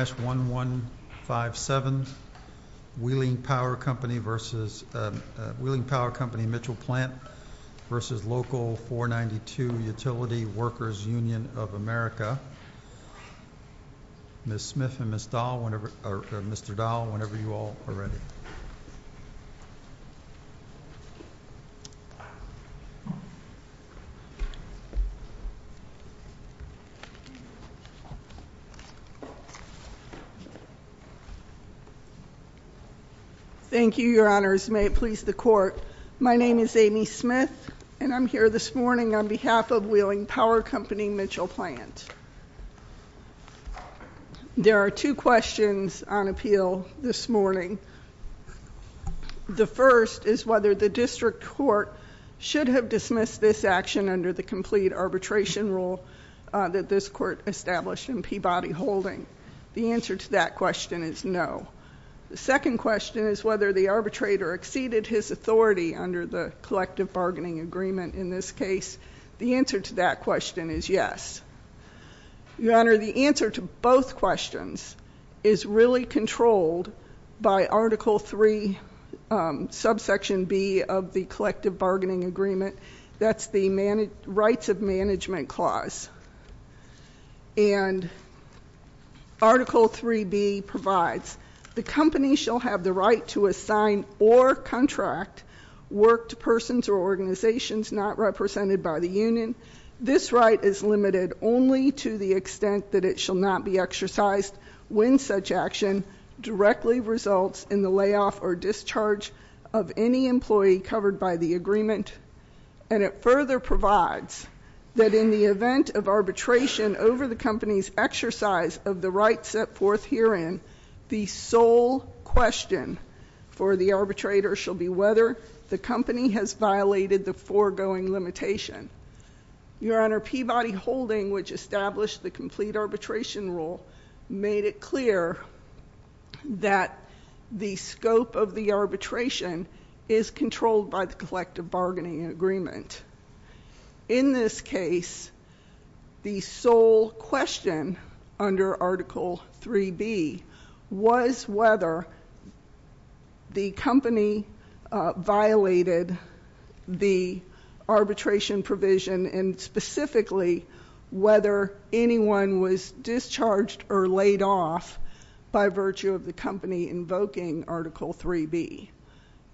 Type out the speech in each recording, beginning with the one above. Ms. Smith and Mr. Dahl, whenever you all are ready. Thank you, your honors. May it please the court. My name is Amy Smith, and I'm here this morning on behalf of Wheeling Power Company-Mitchell Plant. There are two questions on appeal this morning. The first is whether the district court should have dismissed this action under the complete arbitration rule that this court established in Peabody Holding. The answer to that question is no. The second question is whether the arbitrator exceeded his authority under the collective bargaining agreement in this case. The answer to that question is yes. Your honor, the answer to both questions is really controlled by Article 3, subsection B of the collective bargaining agreement. That's the Rights of Management Clause. And Article 3B provides the company shall have the right to assign or contract work to persons or organizations not represented by the union. This right is limited only to the extent that it shall not be exercised when such action directly results in the layoff or discharge of any employee covered by the agreement. And it further provides that in the event of arbitration over the company's exercise of the right set forth herein, the sole question for the arbitrator shall be whether the company has violated the foregoing limitation. Your honor, Peabody Holding, which established the complete arbitration rule, made it clear that the scope of the arbitration is controlled by the collective bargaining agreement. In this case, the sole question under Article 3B was whether the company violated the arbitration provision and specifically whether anyone was discharged or laid off by virtue of the company invoking Article 3B.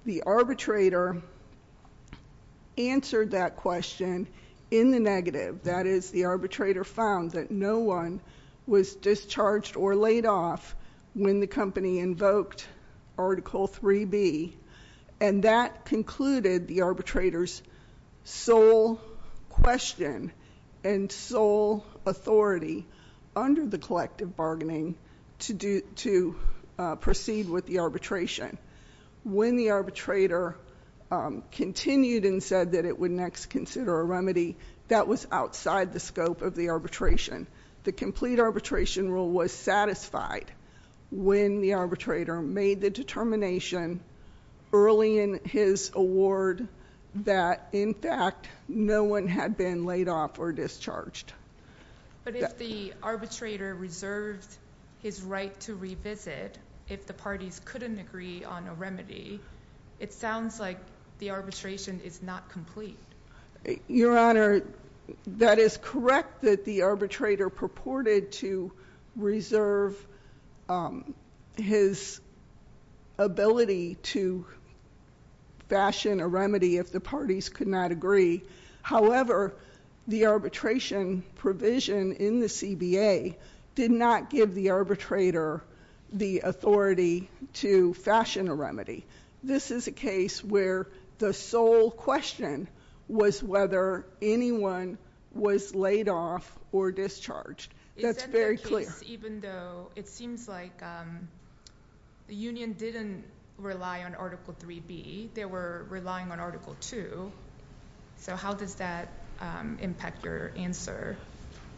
The arbitrator answered that question in the negative. That is, the arbitrator found that no one was discharged or laid off when the company invoked Article 3B. And that concluded the arbitrator's sole question and sole authority under the collective bargaining to proceed with the arbitration. When the arbitrator continued and said that it would next consider a remedy, that was outside the scope of the arbitration. The complete arbitration rule was satisfied when the arbitrator made the determination early in his award that, in fact, no one had been laid off or discharged. But if the arbitrator reserved his right to revisit if the parties couldn't agree on a remedy, it sounds like the arbitration is not complete. Your Honor, that is correct that the arbitrator purported to reserve his ability to fashion a remedy if the parties could not agree. However, the arbitration provision in the CBA did not give the arbitrator the authority to fashion a remedy. This is a case where the sole question was whether anyone was laid off or discharged. That's very clear. Even though it seems like the union didn't rely on Article 3B, they were relying on Article 2. So how does that impact your answer?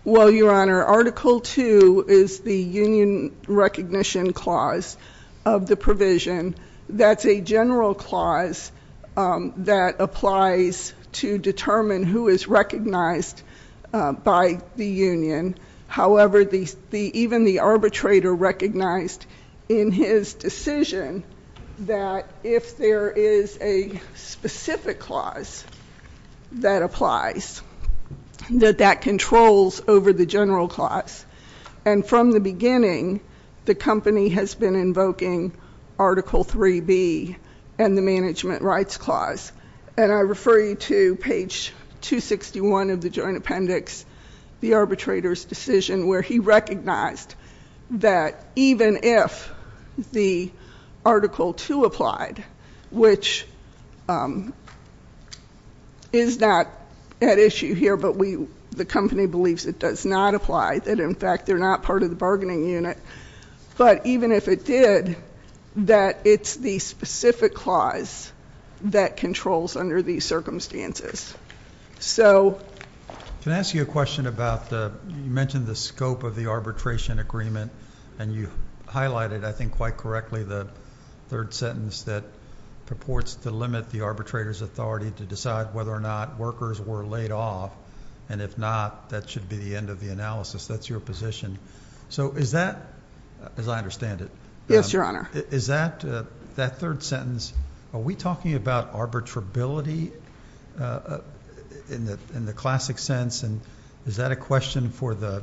Well, Your Honor, Article 2 is the union recognition clause of the provision. That's a general clause that applies to determine who is recognized by the union. However, even the arbitrator recognized in his decision that if there is a specific clause that applies, that that controls over the general clause. And from the beginning, the company has been invoking Article 3B and the management rights clause. And I refer you to page 261 of the joint appendix, the arbitrator's decision, where he recognized that even if the Article 2 applied, which is not at issue here, but the company believes it does not apply. That, in fact, they're not part of the bargaining unit. But even if it did, that it's the specific clause that controls under these circumstances. Can I ask you a question about you mentioned the scope of the arbitration agreement, and you highlighted, I think quite correctly, the third sentence that purports to limit the arbitrator's authority to decide whether or not workers were laid off, and if not, that should be the end of the analysis. That's your position. So is that, as I understand it? Yes, Your Honor. Is that, that third sentence, are we talking about arbitrability in the classic sense? And is that a question for the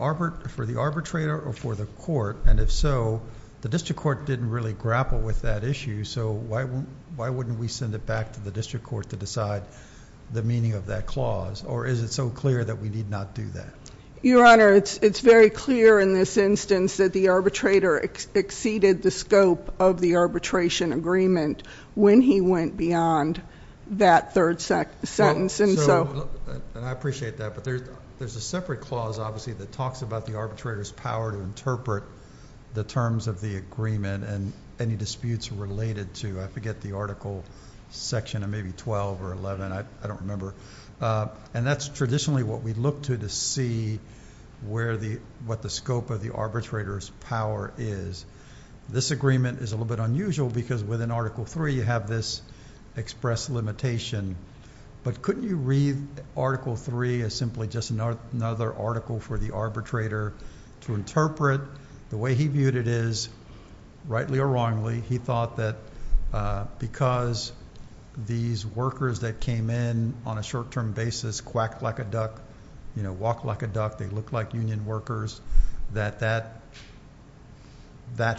arbitrator or for the court? And if so, the district court didn't really grapple with that issue, so why wouldn't we send it back to the district court to decide the meaning of that clause? Or is it so clear that we need not do that? Your Honor, it's very clear in this instance that the arbitrator exceeded the scope of the arbitration agreement when he went beyond that third sentence, and so. And I appreciate that, but there's a separate clause, obviously, that talks about the arbitrator's power to interpret the terms of the agreement and any disputes related to, I forget the article, section of maybe 12 or 11, I don't remember. And that's traditionally what we look to to see what the scope of the arbitrator's power is. This agreement is a little bit unusual because within Article 3 you have this express limitation. But couldn't you read Article 3 as simply just another article for the arbitrator to interpret the way he viewed it is, rightly or wrongly, he thought that because these workers that came in on a short-term basis quacked like a duck, you know, walked like a duck, they looked like union workers, that that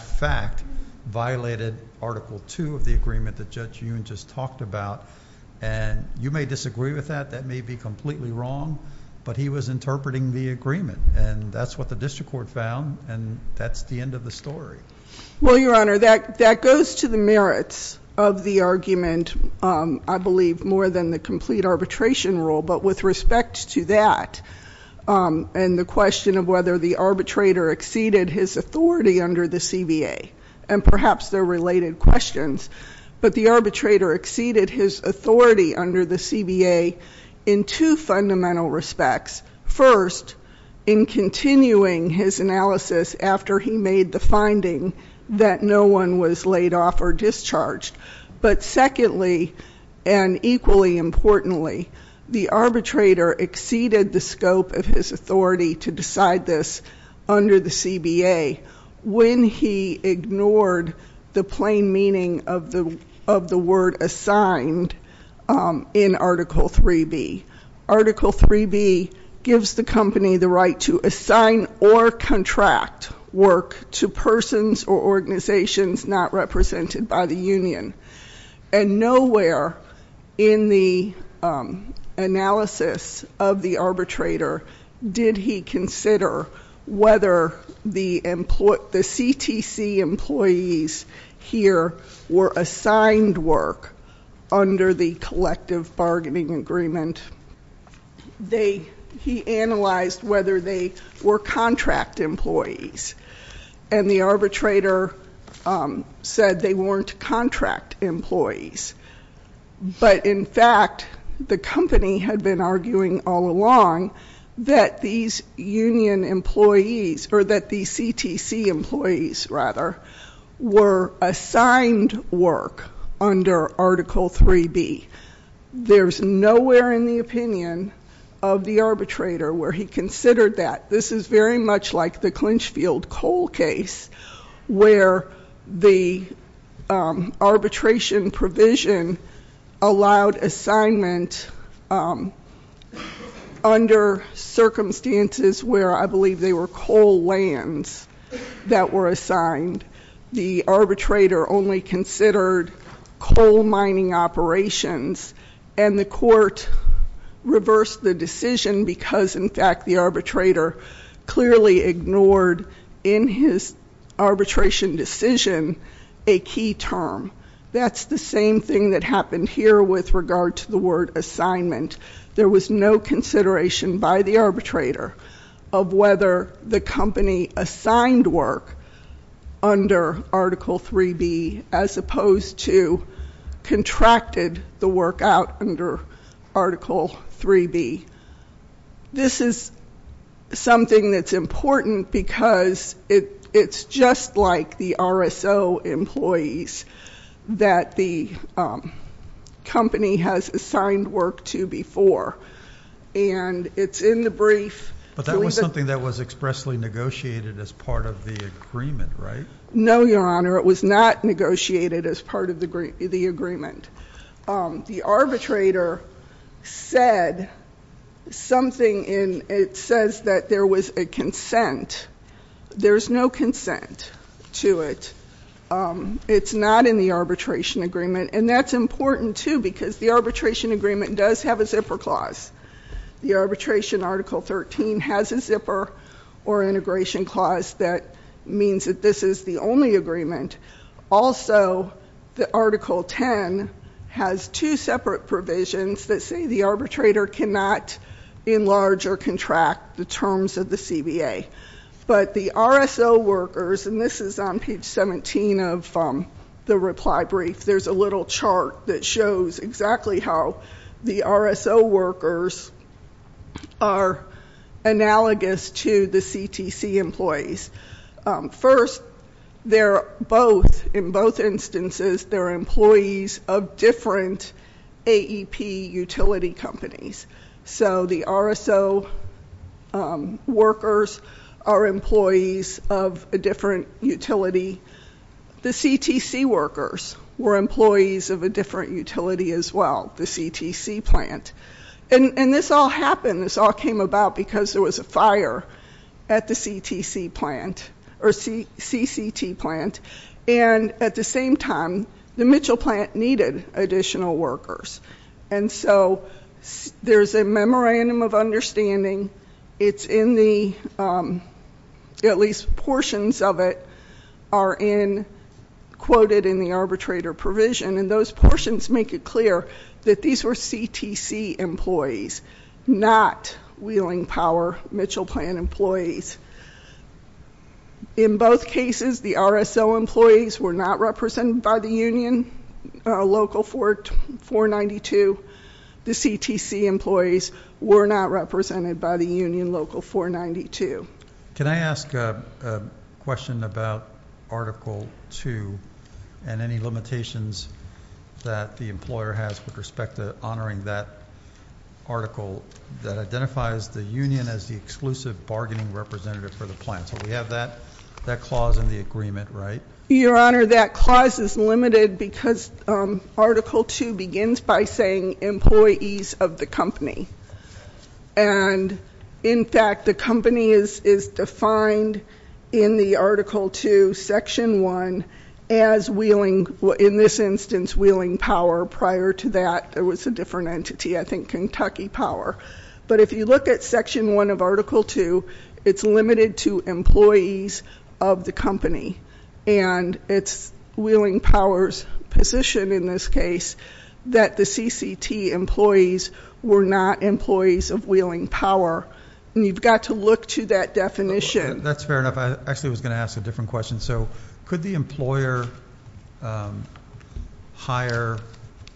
fact violated Article 2 of the agreement that Judge Yoon just talked about. And you may disagree with that. That may be completely wrong, but he was interpreting the agreement. And that's what the district court found, and that's the end of the story. Well, Your Honor, that goes to the merits of the argument, I believe, more than the complete arbitration rule. But with respect to that and the question of whether the arbitrator exceeded his authority under the CBA, and perhaps they're related questions, but the arbitrator exceeded his authority under the CBA in two fundamental respects. First, in continuing his analysis after he made the finding that no one was laid off or discharged. But secondly, and equally importantly, the arbitrator exceeded the scope of his authority to decide this under the CBA when he ignored the plain meaning of the word assigned in Article 3B. Article 3B gives the company the right to assign or contract work to persons or organizations not represented by the union. And nowhere in the analysis of the arbitrator did he consider whether the CTC employees here were assigned work under the collective bargaining agreement. He analyzed whether they were contract employees. And the arbitrator said they weren't contract employees. But in fact, the company had been arguing all along that these union employees, or that the CTC employees, rather, were assigned work under Article 3B. There's nowhere in the opinion of the arbitrator where he considered that. This is very much like the Clinchfield Coal case where the arbitration provision allowed assignment under circumstances where I believe they were coal lands that were assigned. The arbitrator only considered coal mining operations. And the court reversed the decision because, in fact, the arbitrator clearly ignored in his arbitration decision a key term. That's the same thing that happened here with regard to the word assignment. There was no consideration by the arbitrator of whether the company assigned work under Article 3B as opposed to contracted the work out under Article 3B. This is something that's important because it's just like the RSO employees. That the company has assigned work to before. And it's in the brief. But that was something that was expressly negotiated as part of the agreement, right? No, Your Honor. It was not negotiated as part of the agreement. The arbitrator said something. It says that there was a consent. There's no consent to it. It's not in the arbitration agreement. And that's important, too, because the arbitration agreement does have a zipper clause. The arbitration Article 13 has a zipper or integration clause that means that this is the only agreement. Also, the Article 10 has two separate provisions that say the arbitrator cannot enlarge or contract the terms of the CBA. But the RSO workers, and this is on page 17 of the reply brief, there's a little chart that shows exactly how the RSO workers are analogous to the CTC employees. First, they're both, in both instances, they're employees of different AEP utility companies. So the RSO workers are employees of a different utility. The CTC workers were employees of a different utility as well, the CTC plant. And this all happened, this all came about because there was a fire at the CTC plant, or CCT plant. And at the same time, the Mitchell plant needed additional workers. And so there's a memorandum of understanding. It's in the, at least portions of it are in, quoted in the arbitrator provision. And those portions make it clear that these were CTC employees, not Wheeling Power Mitchell plant employees. In both cases, the RSO employees were not represented by the union, Local 492. The CTC employees were not represented by the union, Local 492. Can I ask a question about Article 2 and any limitations that the employer has with respect to honoring that article that identifies the union as the exclusive bargaining representative for the plant? So we have that clause in the agreement, right? Your Honor, that clause is limited because Article 2 begins by saying employees of the company. And in fact, the company is defined in the Article 2, Section 1 as Wheeling, in this instance, Wheeling Power. Prior to that, there was a different entity, I think Kentucky Power. But if you look at Section 1 of Article 2, it's limited to employees of the company. And it's Wheeling Power's position in this case that the CCT employees were not employees of Wheeling Power. And you've got to look to that definition. That's fair enough. I actually was going to ask a different question. So could the employer hire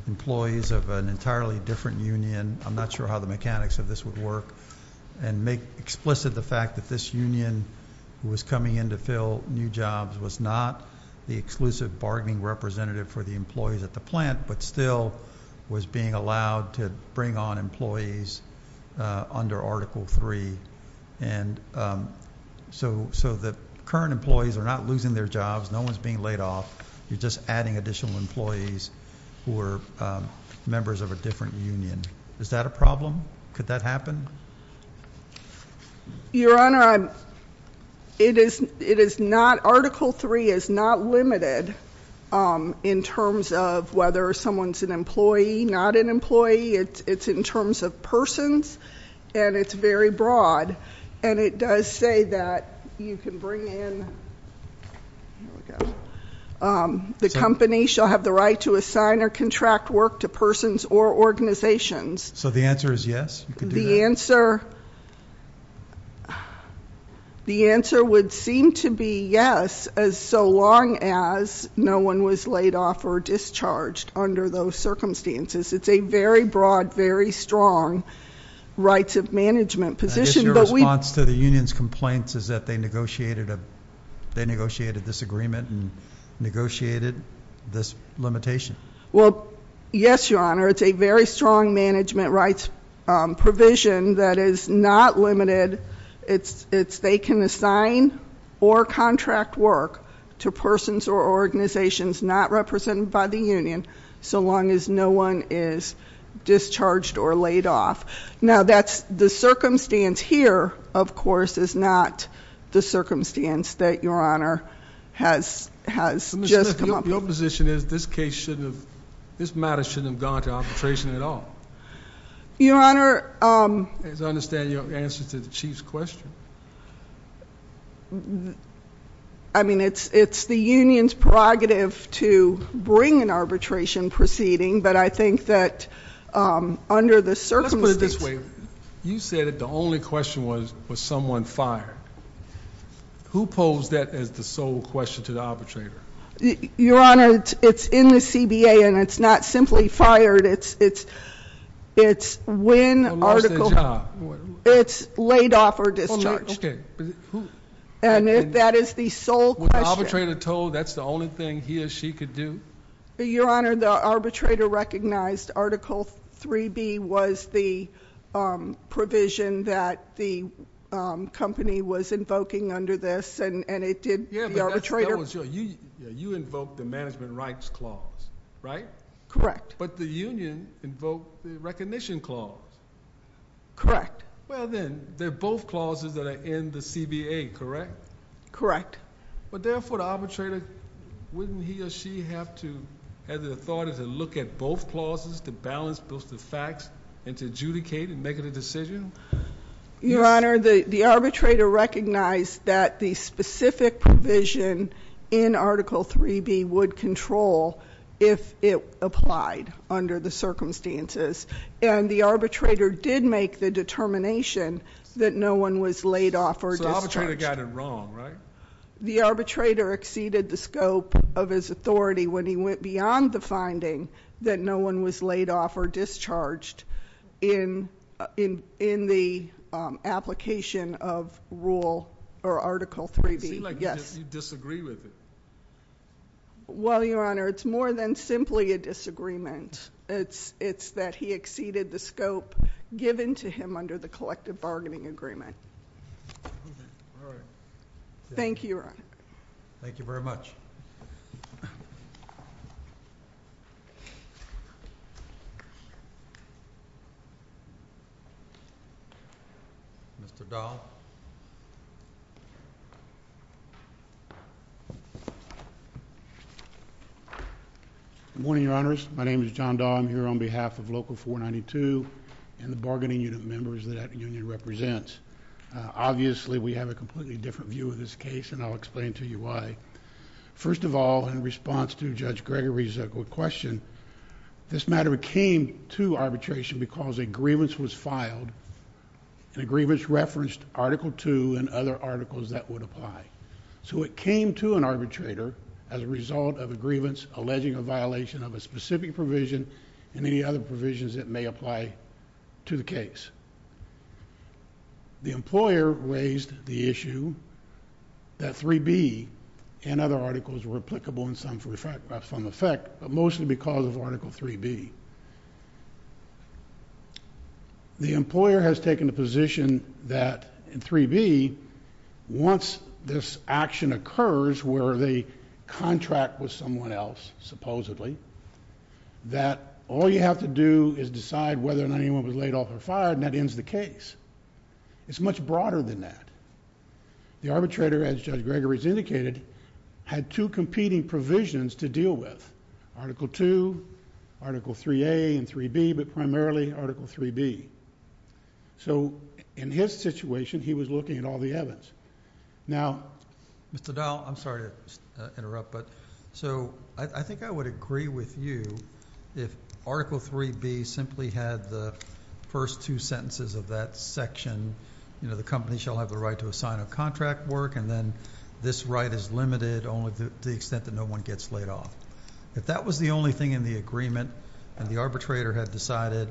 employees of an entirely different union? I'm not sure how the mechanics of this would work. And make explicit the fact that this union was coming in to fill new jobs, was not the exclusive bargaining representative for the employees at the plant, but still was being allowed to bring on employees under Article 3. And so the current employees are not losing their jobs. No one is being laid off. You're just adding additional employees who are members of a different union. Is that a problem? Could that happen? Your Honor, Article 3 is not limited in terms of whether someone's an employee, not an employee. It's in terms of persons. And it's very broad. And it does say that you can bring in the company shall have the right to assign or contract work to persons or organizations. So the answer is yes? The answer would seem to be yes, so long as no one was laid off or discharged under those circumstances. It's a very broad, very strong rights of management position. I guess your response to the union's complaints is that they negotiated this agreement and negotiated this limitation. Well, yes, Your Honor. It's a very strong management rights provision that is not limited. It's they can assign or contract work to persons or organizations not represented by the union so long as no one is discharged or laid off. Now, the circumstance here, of course, is not the circumstance that Your Honor has just come up with. Your position is this case shouldn't have, this matter shouldn't have gone to arbitration at all. Your Honor- As I understand your answer to the Chief's question. I mean, it's the union's prerogative to bring an arbitration proceeding, but I think that under the circumstances- Let's put it this way. You said that the only question was, was someone fired. Who posed that as the sole question to the arbitrator? Your Honor, it's in the CBA and it's not simply fired. It's when article- When was the job? It's laid off or discharged. Okay, but who- And that is the sole question. When the arbitrator told that's the only thing he or she could do? Your Honor, the arbitrator recognized Article 3B was the provision that the company was invoking under this and it did- You invoked the management rights clause, right? Correct. But the union invoked the recognition clause. Correct. Well then, they're both clauses that are in the CBA, correct? Correct. But therefore, the arbitrator, wouldn't he or she have to have the authority to look at both clauses to balance both the facts and to adjudicate and make a decision? Your Honor, the arbitrator recognized that the specific provision in Article 3B would control if it applied under the circumstances. And the arbitrator did make the determination that no one was laid off or discharged. So the arbitrator got it wrong, right? The arbitrator exceeded the scope of his authority when he went beyond the finding that no one was laid off or discharged in the application of rule or Article 3B. It seems like you disagree with it. Well, Your Honor, it's more than simply a disagreement. It's that he exceeded the scope given to him under the collective bargaining agreement. All right. Thank you, Your Honor. Thank you very much. Mr. Dahl. Good morning, Your Honors. My name is John Dahl. I'm here on behalf of Local 492 and the bargaining unit members that that union represents. Obviously, we have a completely different view of this case, and I'll explain to you why. First of all, in response to Judge Gregory's question, this matter came to arbitration because a grievance was filed. The grievance referenced Article 2 and other articles that would apply. So it came to an arbitrator as a result of a grievance alleging a violation of a specific provision and any other provisions that may apply to the case. The employer raised the issue that 3B and other articles were applicable in some effect, but mostly because of Article 3B. The employer has taken the position that in 3B, once this action occurs where they contract with someone else, supposedly, that all you have to do is decide whether or not anyone was laid off or fired, and that ends the case. It's much broader than that. The arbitrator, as Judge Gregory's indicated, had two competing provisions to deal with. Article 2, Article 3A, and 3B, but primarily Article 3B. So in his situation, he was looking at all the evidence. Now, Mr. Dowell, I'm sorry to interrupt, but so I think I would agree with you if Article 3B simply had the first two sentences of that section, you know, the company shall have the right to assign a contract work, and then this right is limited only to the extent that no one gets laid off. If that was the only thing in the agreement, and the arbitrator had decided,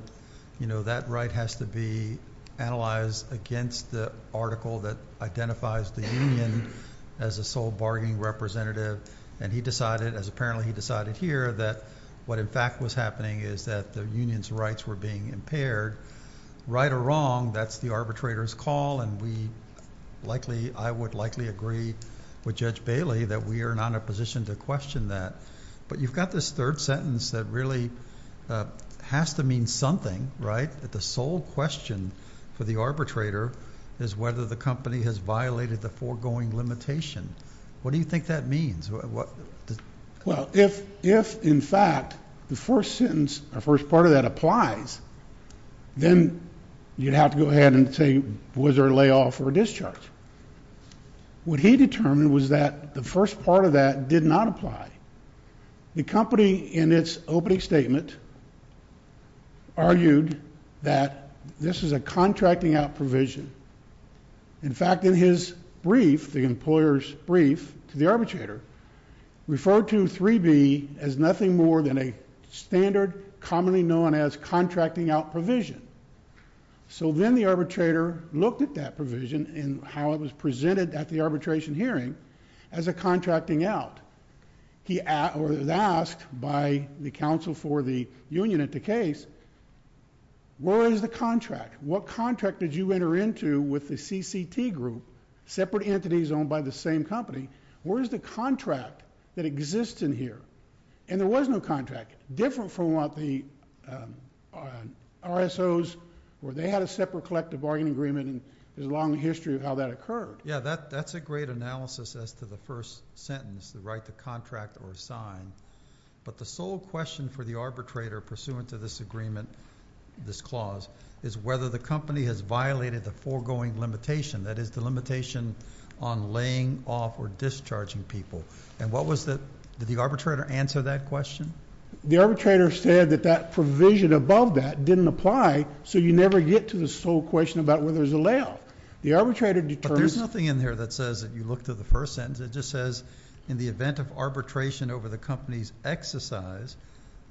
you know, that right has to be analyzed against the article that identifies the union as a sole bargaining representative, and he decided, as apparently he decided here, that what in fact was happening is that the union's rights were being impaired, right or wrong, that's the arbitrator's call, and we likely, I would likely agree with Judge Bailey that we are not in a position to question that. But you've got this third sentence that really has to mean something, right, that the sole question for the arbitrator is whether the company has violated the foregoing limitation. What do you think that means? Well, if in fact the first sentence, the first part of that applies, then you'd have to go ahead and say was there a layoff or a discharge. What he determined was that the first part of that did not apply. The company in its opening statement argued that this is a contracting out provision. In fact, in his brief, the employer's brief to the arbitrator, referred to 3B as nothing more than a standard commonly known as contracting out provision. So then the arbitrator looked at that provision and how it was presented at the arbitration hearing as a contracting out. He asked by the counsel for the union at the case, where is the contract? What contract did you enter into with the CCT group, separate entities owned by the same company? Where is the contract that exists in here? And there was no contract, different from what the RSOs, where they had a separate collective bargaining agreement and there's a long history of how that occurred. Yeah, that's a great analysis as to the first sentence, the right to contract or sign. But the sole question for the arbitrator pursuant to this agreement, this clause, is whether the company has violated the foregoing limitation, that is the limitation on laying off or discharging people. Did the arbitrator answer that question? The arbitrator said that that provision above that didn't apply, so you never get to the sole question about whether there's a layoff. But there's nothing in there that says that you look to the first sentence. It just says in the event of arbitration over the company's exercise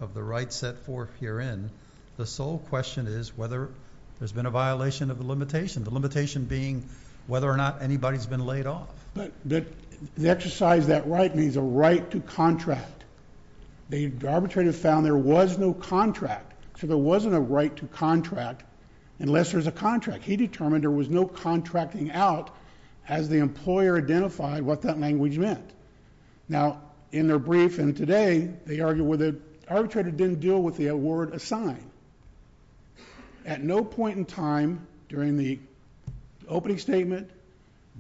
of the right set forth herein, the sole question is whether there's been a violation of the limitation, the limitation being whether or not anybody's been laid off. But the exercise of that right means a right to contract. The arbitrator found there was no contract, so there wasn't a right to contract unless there's a contract. He determined there was no contracting out as the employer identified what that language meant. Now, in their brief and today, they argue where the arbitrator didn't deal with the word assign. At no point in time during the opening statement,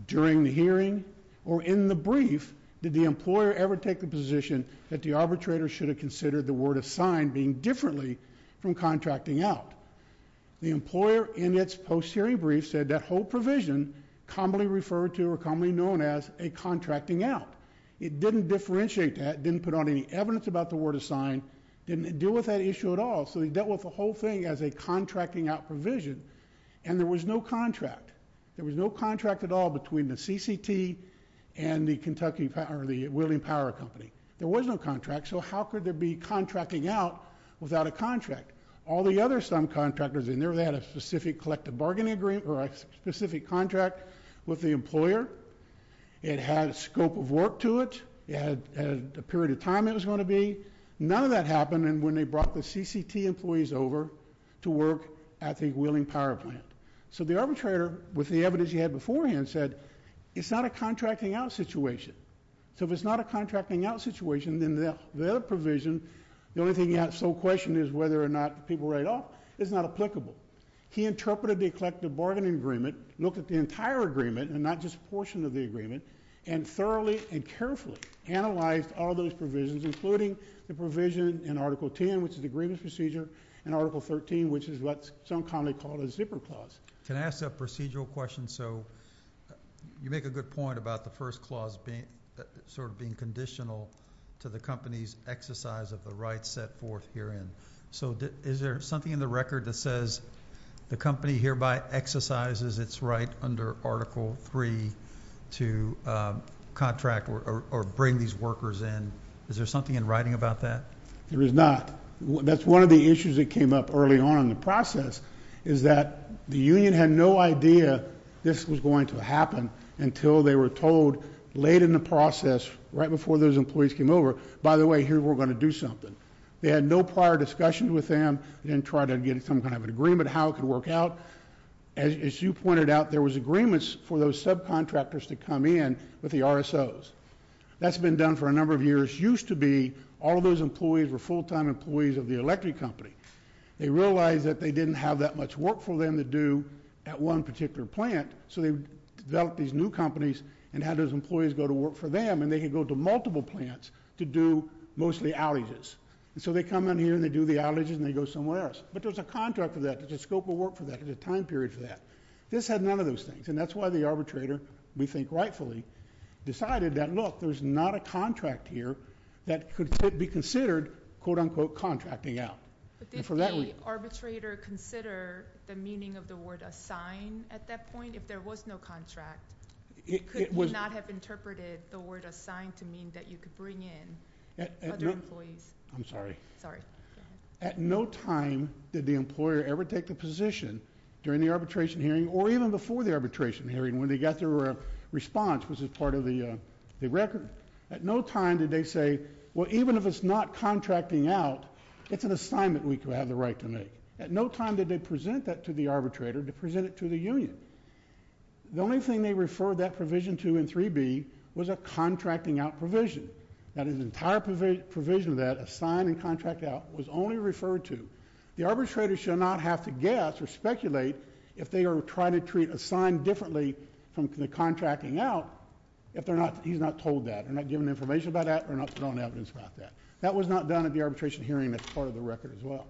during the hearing, or in the brief, did the employer ever take the position that the arbitrator should have considered the word assign being differently from contracting out. The employer in its post-hearing brief said that whole provision commonly referred to or commonly known as a contracting out. It didn't differentiate that, didn't put on any evidence about the word assign, didn't deal with that issue at all, so they dealt with the whole thing as a contracting out provision, and there was no contract. There was no contract at all between the CCT and the Kentucky, or the William Power Company. There was no contract, so how could there be contracting out without a contract? All the other some contractors in there, they had a specific collective bargaining agreement or a specific contract with the employer. It had a scope of work to it. It had a period of time it was going to be. None of that happened, and when they brought the CCT employees over to work at the William Power Plant. So the arbitrator, with the evidence he had beforehand, said it's not a contracting out situation. So if it's not a contracting out situation, then the other provision, the only thing you have to question is whether or not people write off. It's not applicable. He interpreted the collective bargaining agreement, looked at the entire agreement and not just a portion of the agreement, and thoroughly and carefully analyzed all those provisions, including the provision in Article 10, which is the grievance procedure, and Article 13, which is what some commonly call the zipper clause. Can I ask a procedural question? So you make a good point about the first clause sort of being conditional to the company's exercise of the rights set forth herein. So is there something in the record that says the company hereby exercises its right under Article 3 to contract or bring these workers in? Is there something in writing about that? There is not. That's one of the issues that came up early on in the process is that the union had no idea this was going to happen until they were told late in the process, right before those employees came over, by the way, here we're going to do something. They had no prior discussion with them. They didn't try to get some kind of an agreement how it could work out. As you pointed out, there was agreements for those subcontractors to come in with the RSOs. That's been done for a number of years. Used to be all of those employees were full-time employees of the electric company. They realized that they didn't have that much work for them to do at one particular plant, so they developed these new companies and had those employees go to work for them, and they could go to multiple plants to do mostly outages. So they come in here, and they do the outages, and they go somewhere else. But there's a contract for that. There's a scope of work for that. There's a time period for that. This had none of those things, and that's why the arbitrator, we think rightfully, decided that, look, there's not a contract here that could be considered, quote, unquote, contracting out. But didn't the arbitrator consider the meaning of the word assign at that point? If there was no contract, could you not have interpreted the word assign to mean that you could bring in other employees? I'm sorry. Go ahead. At no time did the employer ever take the position during the arbitration hearing or even before the arbitration hearing when they got their response, which was part of the record. At no time did they say, well, even if it's not contracting out, it's an assignment we have the right to make. At no time did they present that to the arbitrator to present it to the union. The only thing they referred that provision to in 3B was a contracting out provision. That is, the entire provision of that, assign and contract out, was only referred to. The arbitrator should not have to guess or speculate if they are trying to treat assign differently from the contracting out if he's not told that. They're not given information about that or not put on evidence about that. That was not done at the arbitration hearing. That's part of the record as well.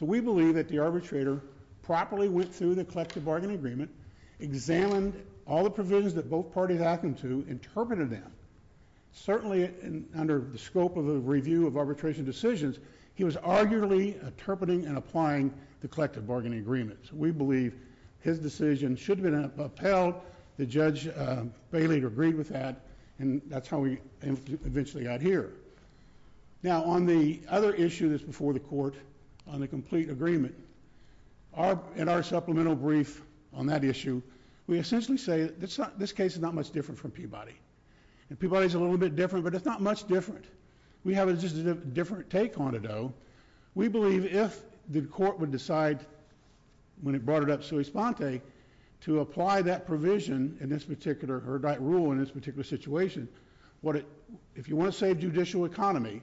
So we believe that the arbitrator properly went through the collective bargaining agreement, examined all the provisions that both parties asked him to, interpreted them. Certainly under the scope of a review of arbitration decisions, he was arguably interpreting and applying the collective bargaining agreement. So we believe his decision should have been upheld. The Judge Bailey agreed with that, and that's how we eventually got here. Now, on the other issue that's before the court on the complete agreement, in our supplemental brief on that issue, we essentially say that this case is not much different from Peabody. Peabody is a little bit different, but it's not much different. We have just a different take on it, though. We believe if the court would decide, when it brought it up sui sponte, to apply that provision in this particular, or that rule in this particular situation, if you want to save judicial economy,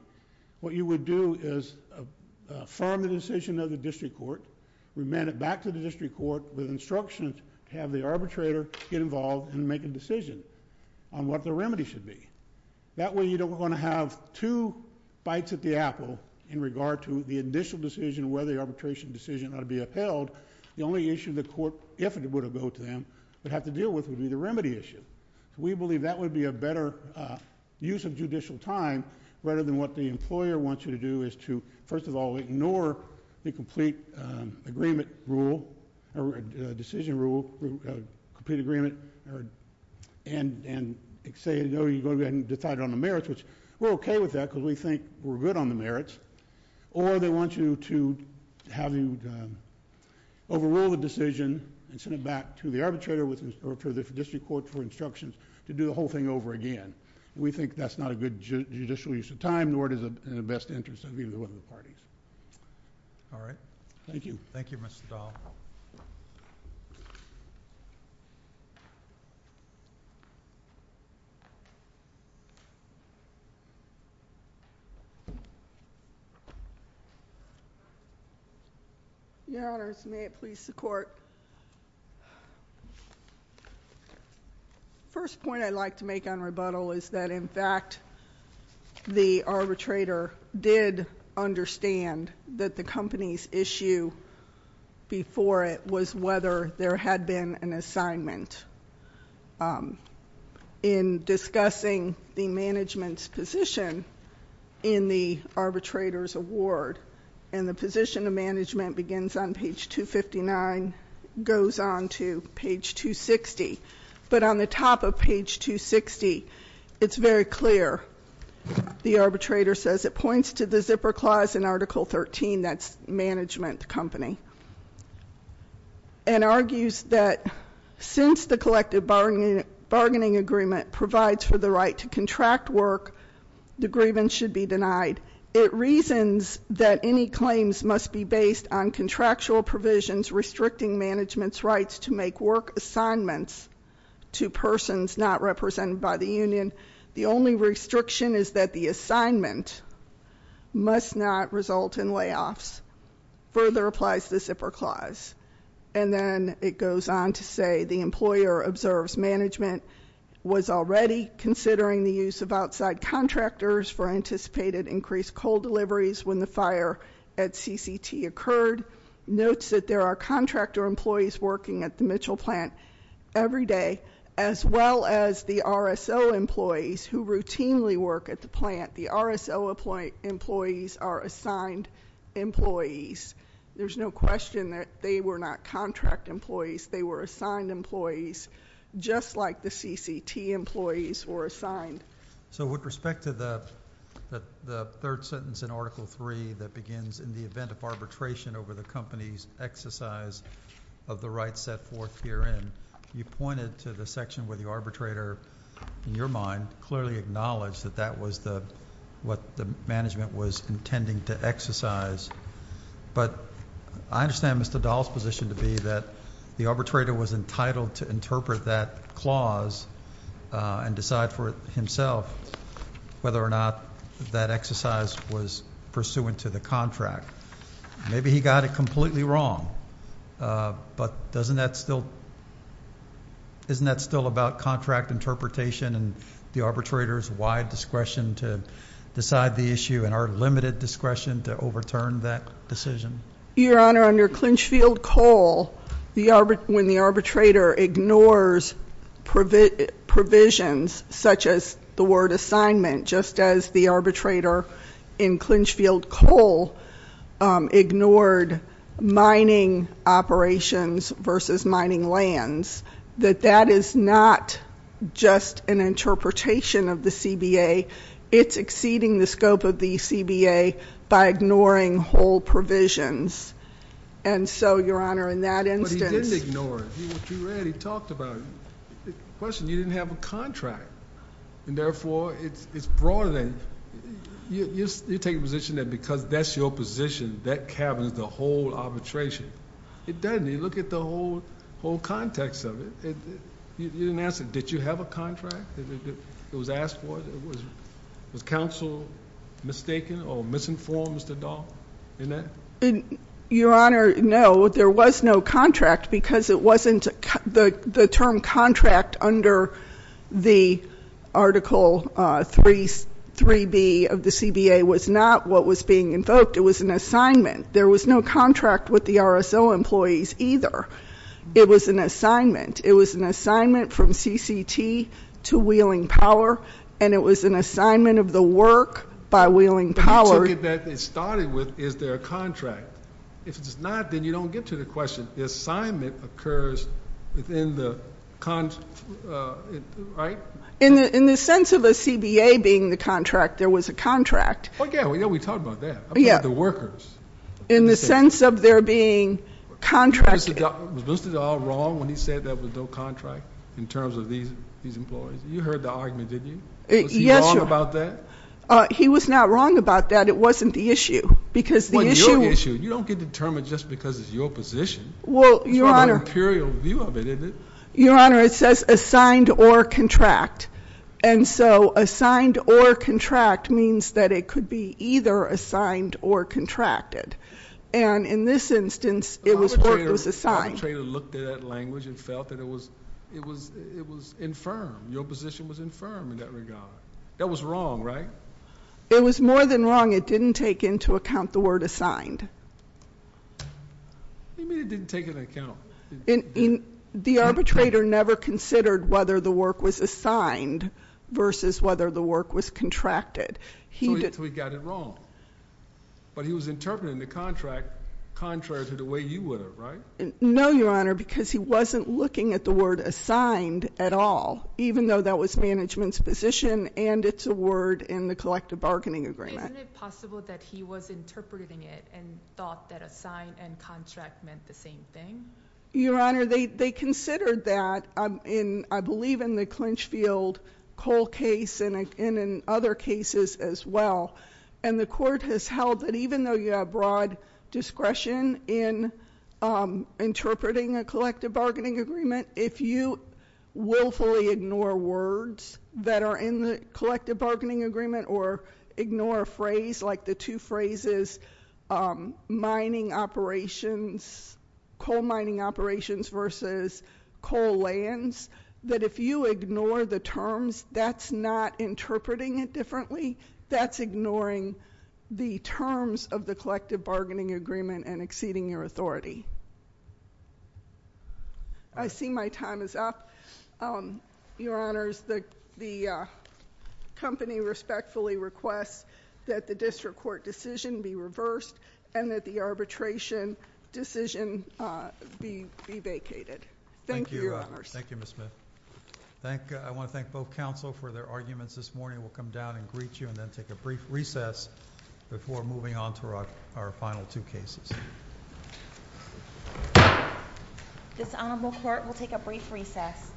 what you would do is affirm the decision of the district court, remand it back to the district court with instructions to have the arbitrator get involved and make a decision on what the remedy should be. That way you don't want to have two bites at the apple in regard to the initial decision, whether the arbitration decision ought to be upheld. The only issue the court, if it were to go to them, would have to deal with would be the remedy issue. We believe that would be a better use of judicial time, rather than what the employer wants you to do, is to, first of all, ignore the complete agreement rule, or decision rule, and say, no, you're going to go ahead and decide on the merits, which we're okay with that because we think we're good on the merits, or they want you to have you overrule the decision and send it back to the arbitrator, or to the district court for instructions to do the whole thing over again. We think that's not a good judicial use of time, nor is it in the best interest of either one of the parties. All right. Thank you. Thank you, Mr. Dahl. Your Honors, may it please the Court. First point I'd like to make on rebuttal is that, in fact, the arbitrator did understand that the company's issue before it was whether there had been an assignment. In discussing the management's position in the arbitrator's award, and the position of management begins on page 259, goes on to page 260. But on the top of page 260, it's very clear. The arbitrator says it points to the zipper clause in article 13, that's management company, and argues that since the collective bargaining agreement provides for the right to contract work, the grievance should be denied. It reasons that any claims must be based on contractual provisions restricting management's rights to make work assignments to persons not represented by the union. The only restriction is that the assignment must not result in layoffs. Further applies the zipper clause. And then it goes on to say the employer observes management was already considering the use of outside contractors for anticipated increased coal deliveries when the fire at CCT occurred. The employer notes that there are contractor employees working at the Mitchell plant every day, as well as the RSO employees who routinely work at the plant. The RSO employees are assigned employees. There's no question that they were not contract employees. They were assigned employees, just like the CCT employees were assigned. So with respect to the third sentence in article 3 that begins, in the event of arbitration over the company's exercise of the rights set forth herein, you pointed to the section where the arbitrator, in your mind, clearly acknowledged that that was what the management was intending to exercise. But I understand Mr. Dahl's position to be that the arbitrator was entitled to interpret that clause and decide for himself whether or not that exercise was pursuant to the contract. Maybe he got it completely wrong, but isn't that still about contract interpretation and the arbitrator's wide discretion to decide the issue and our limited discretion to overturn that decision? Your Honor, under Clinchfield Coal, when the arbitrator ignores provisions such as the word assignment, just as the arbitrator in Clinchfield Coal ignored mining operations versus mining lands, that that is not just an interpretation of the CBA. It's exceeding the scope of the CBA by ignoring whole provisions. And so, Your Honor, in that instance. But he didn't ignore it. What you read, he talked about it. The question is you didn't have a contract, and therefore it's broader than that. You're taking a position that because that's your position, that cabinet is the whole arbitration. It doesn't. You look at the whole context of it. You didn't answer. Did you have a contract? It was asked for? Was counsel mistaken or misinformed, Mr. Dahl, in that? Your Honor, no. There was no contract because it wasn't the term contract under the article 3B of the CBA was not what was being invoked. It was an assignment. There was no contract with the RSO employees either. It was an assignment. It was an assignment from CCT to Wheeling Power, and it was an assignment of the work by Wheeling Power. But you took it back and started with is there a contract. If it's not, then you don't get to the question. The assignment occurs within the contract, right? In the sense of a CBA being the contract, there was a contract. Oh, yeah, we talked about that. Yeah. About the workers. In the sense of there being contracts. Was Mr. Dahl wrong when he said there was no contract in terms of these employees? You heard the argument, didn't you? Yes, Your Honor. Was he wrong about that? He was not wrong about that. It wasn't the issue because the issue. Well, your issue. You don't get determined just because it's your position. Well, Your Honor. It's more of an imperial view of it, isn't it? Your Honor, it says assigned or contract. And so assigned or contract means that it could be either assigned or contracted. And in this instance, it was assigned. The arbitrator looked at that language and felt that it was infirm. Your position was infirm in that regard. That was wrong, right? It was more than wrong. It didn't take into account the word assigned. What do you mean it didn't take into account? The arbitrator never considered whether the work was assigned versus whether the work was contracted. So he got it wrong. But he was interpreting the contract contrary to the way you would have, right? No, Your Honor, because he wasn't looking at the word assigned at all, even though that was management's position and it's a word in the collective bargaining agreement. Isn't it possible that he was interpreting it and thought that assigned and contract meant the same thing? Your Honor, they considered that. I believe in the Clinchfield-Cole case and in other cases as well. And the court has held that even though you have broad discretion in interpreting a collective bargaining agreement, if you willfully ignore words that are in the collective bargaining agreement or ignore a phrase like the two phrases mining operations, coal mining operations versus coal lands, that if you ignore the terms, that's not interpreting it differently. That's ignoring the terms of the collective bargaining agreement and exceeding your authority. I see my time is up. Your Honors, the company respectfully requests that the district court decision be reversed and that the arbitration decision be vacated. Thank you, Your Honors. Thank you, Ms. Smith. I want to thank both counsel for their arguments this morning. We'll come down and greet you and then take a brief recess before moving on to our final two cases. This honorable court will take a brief recess.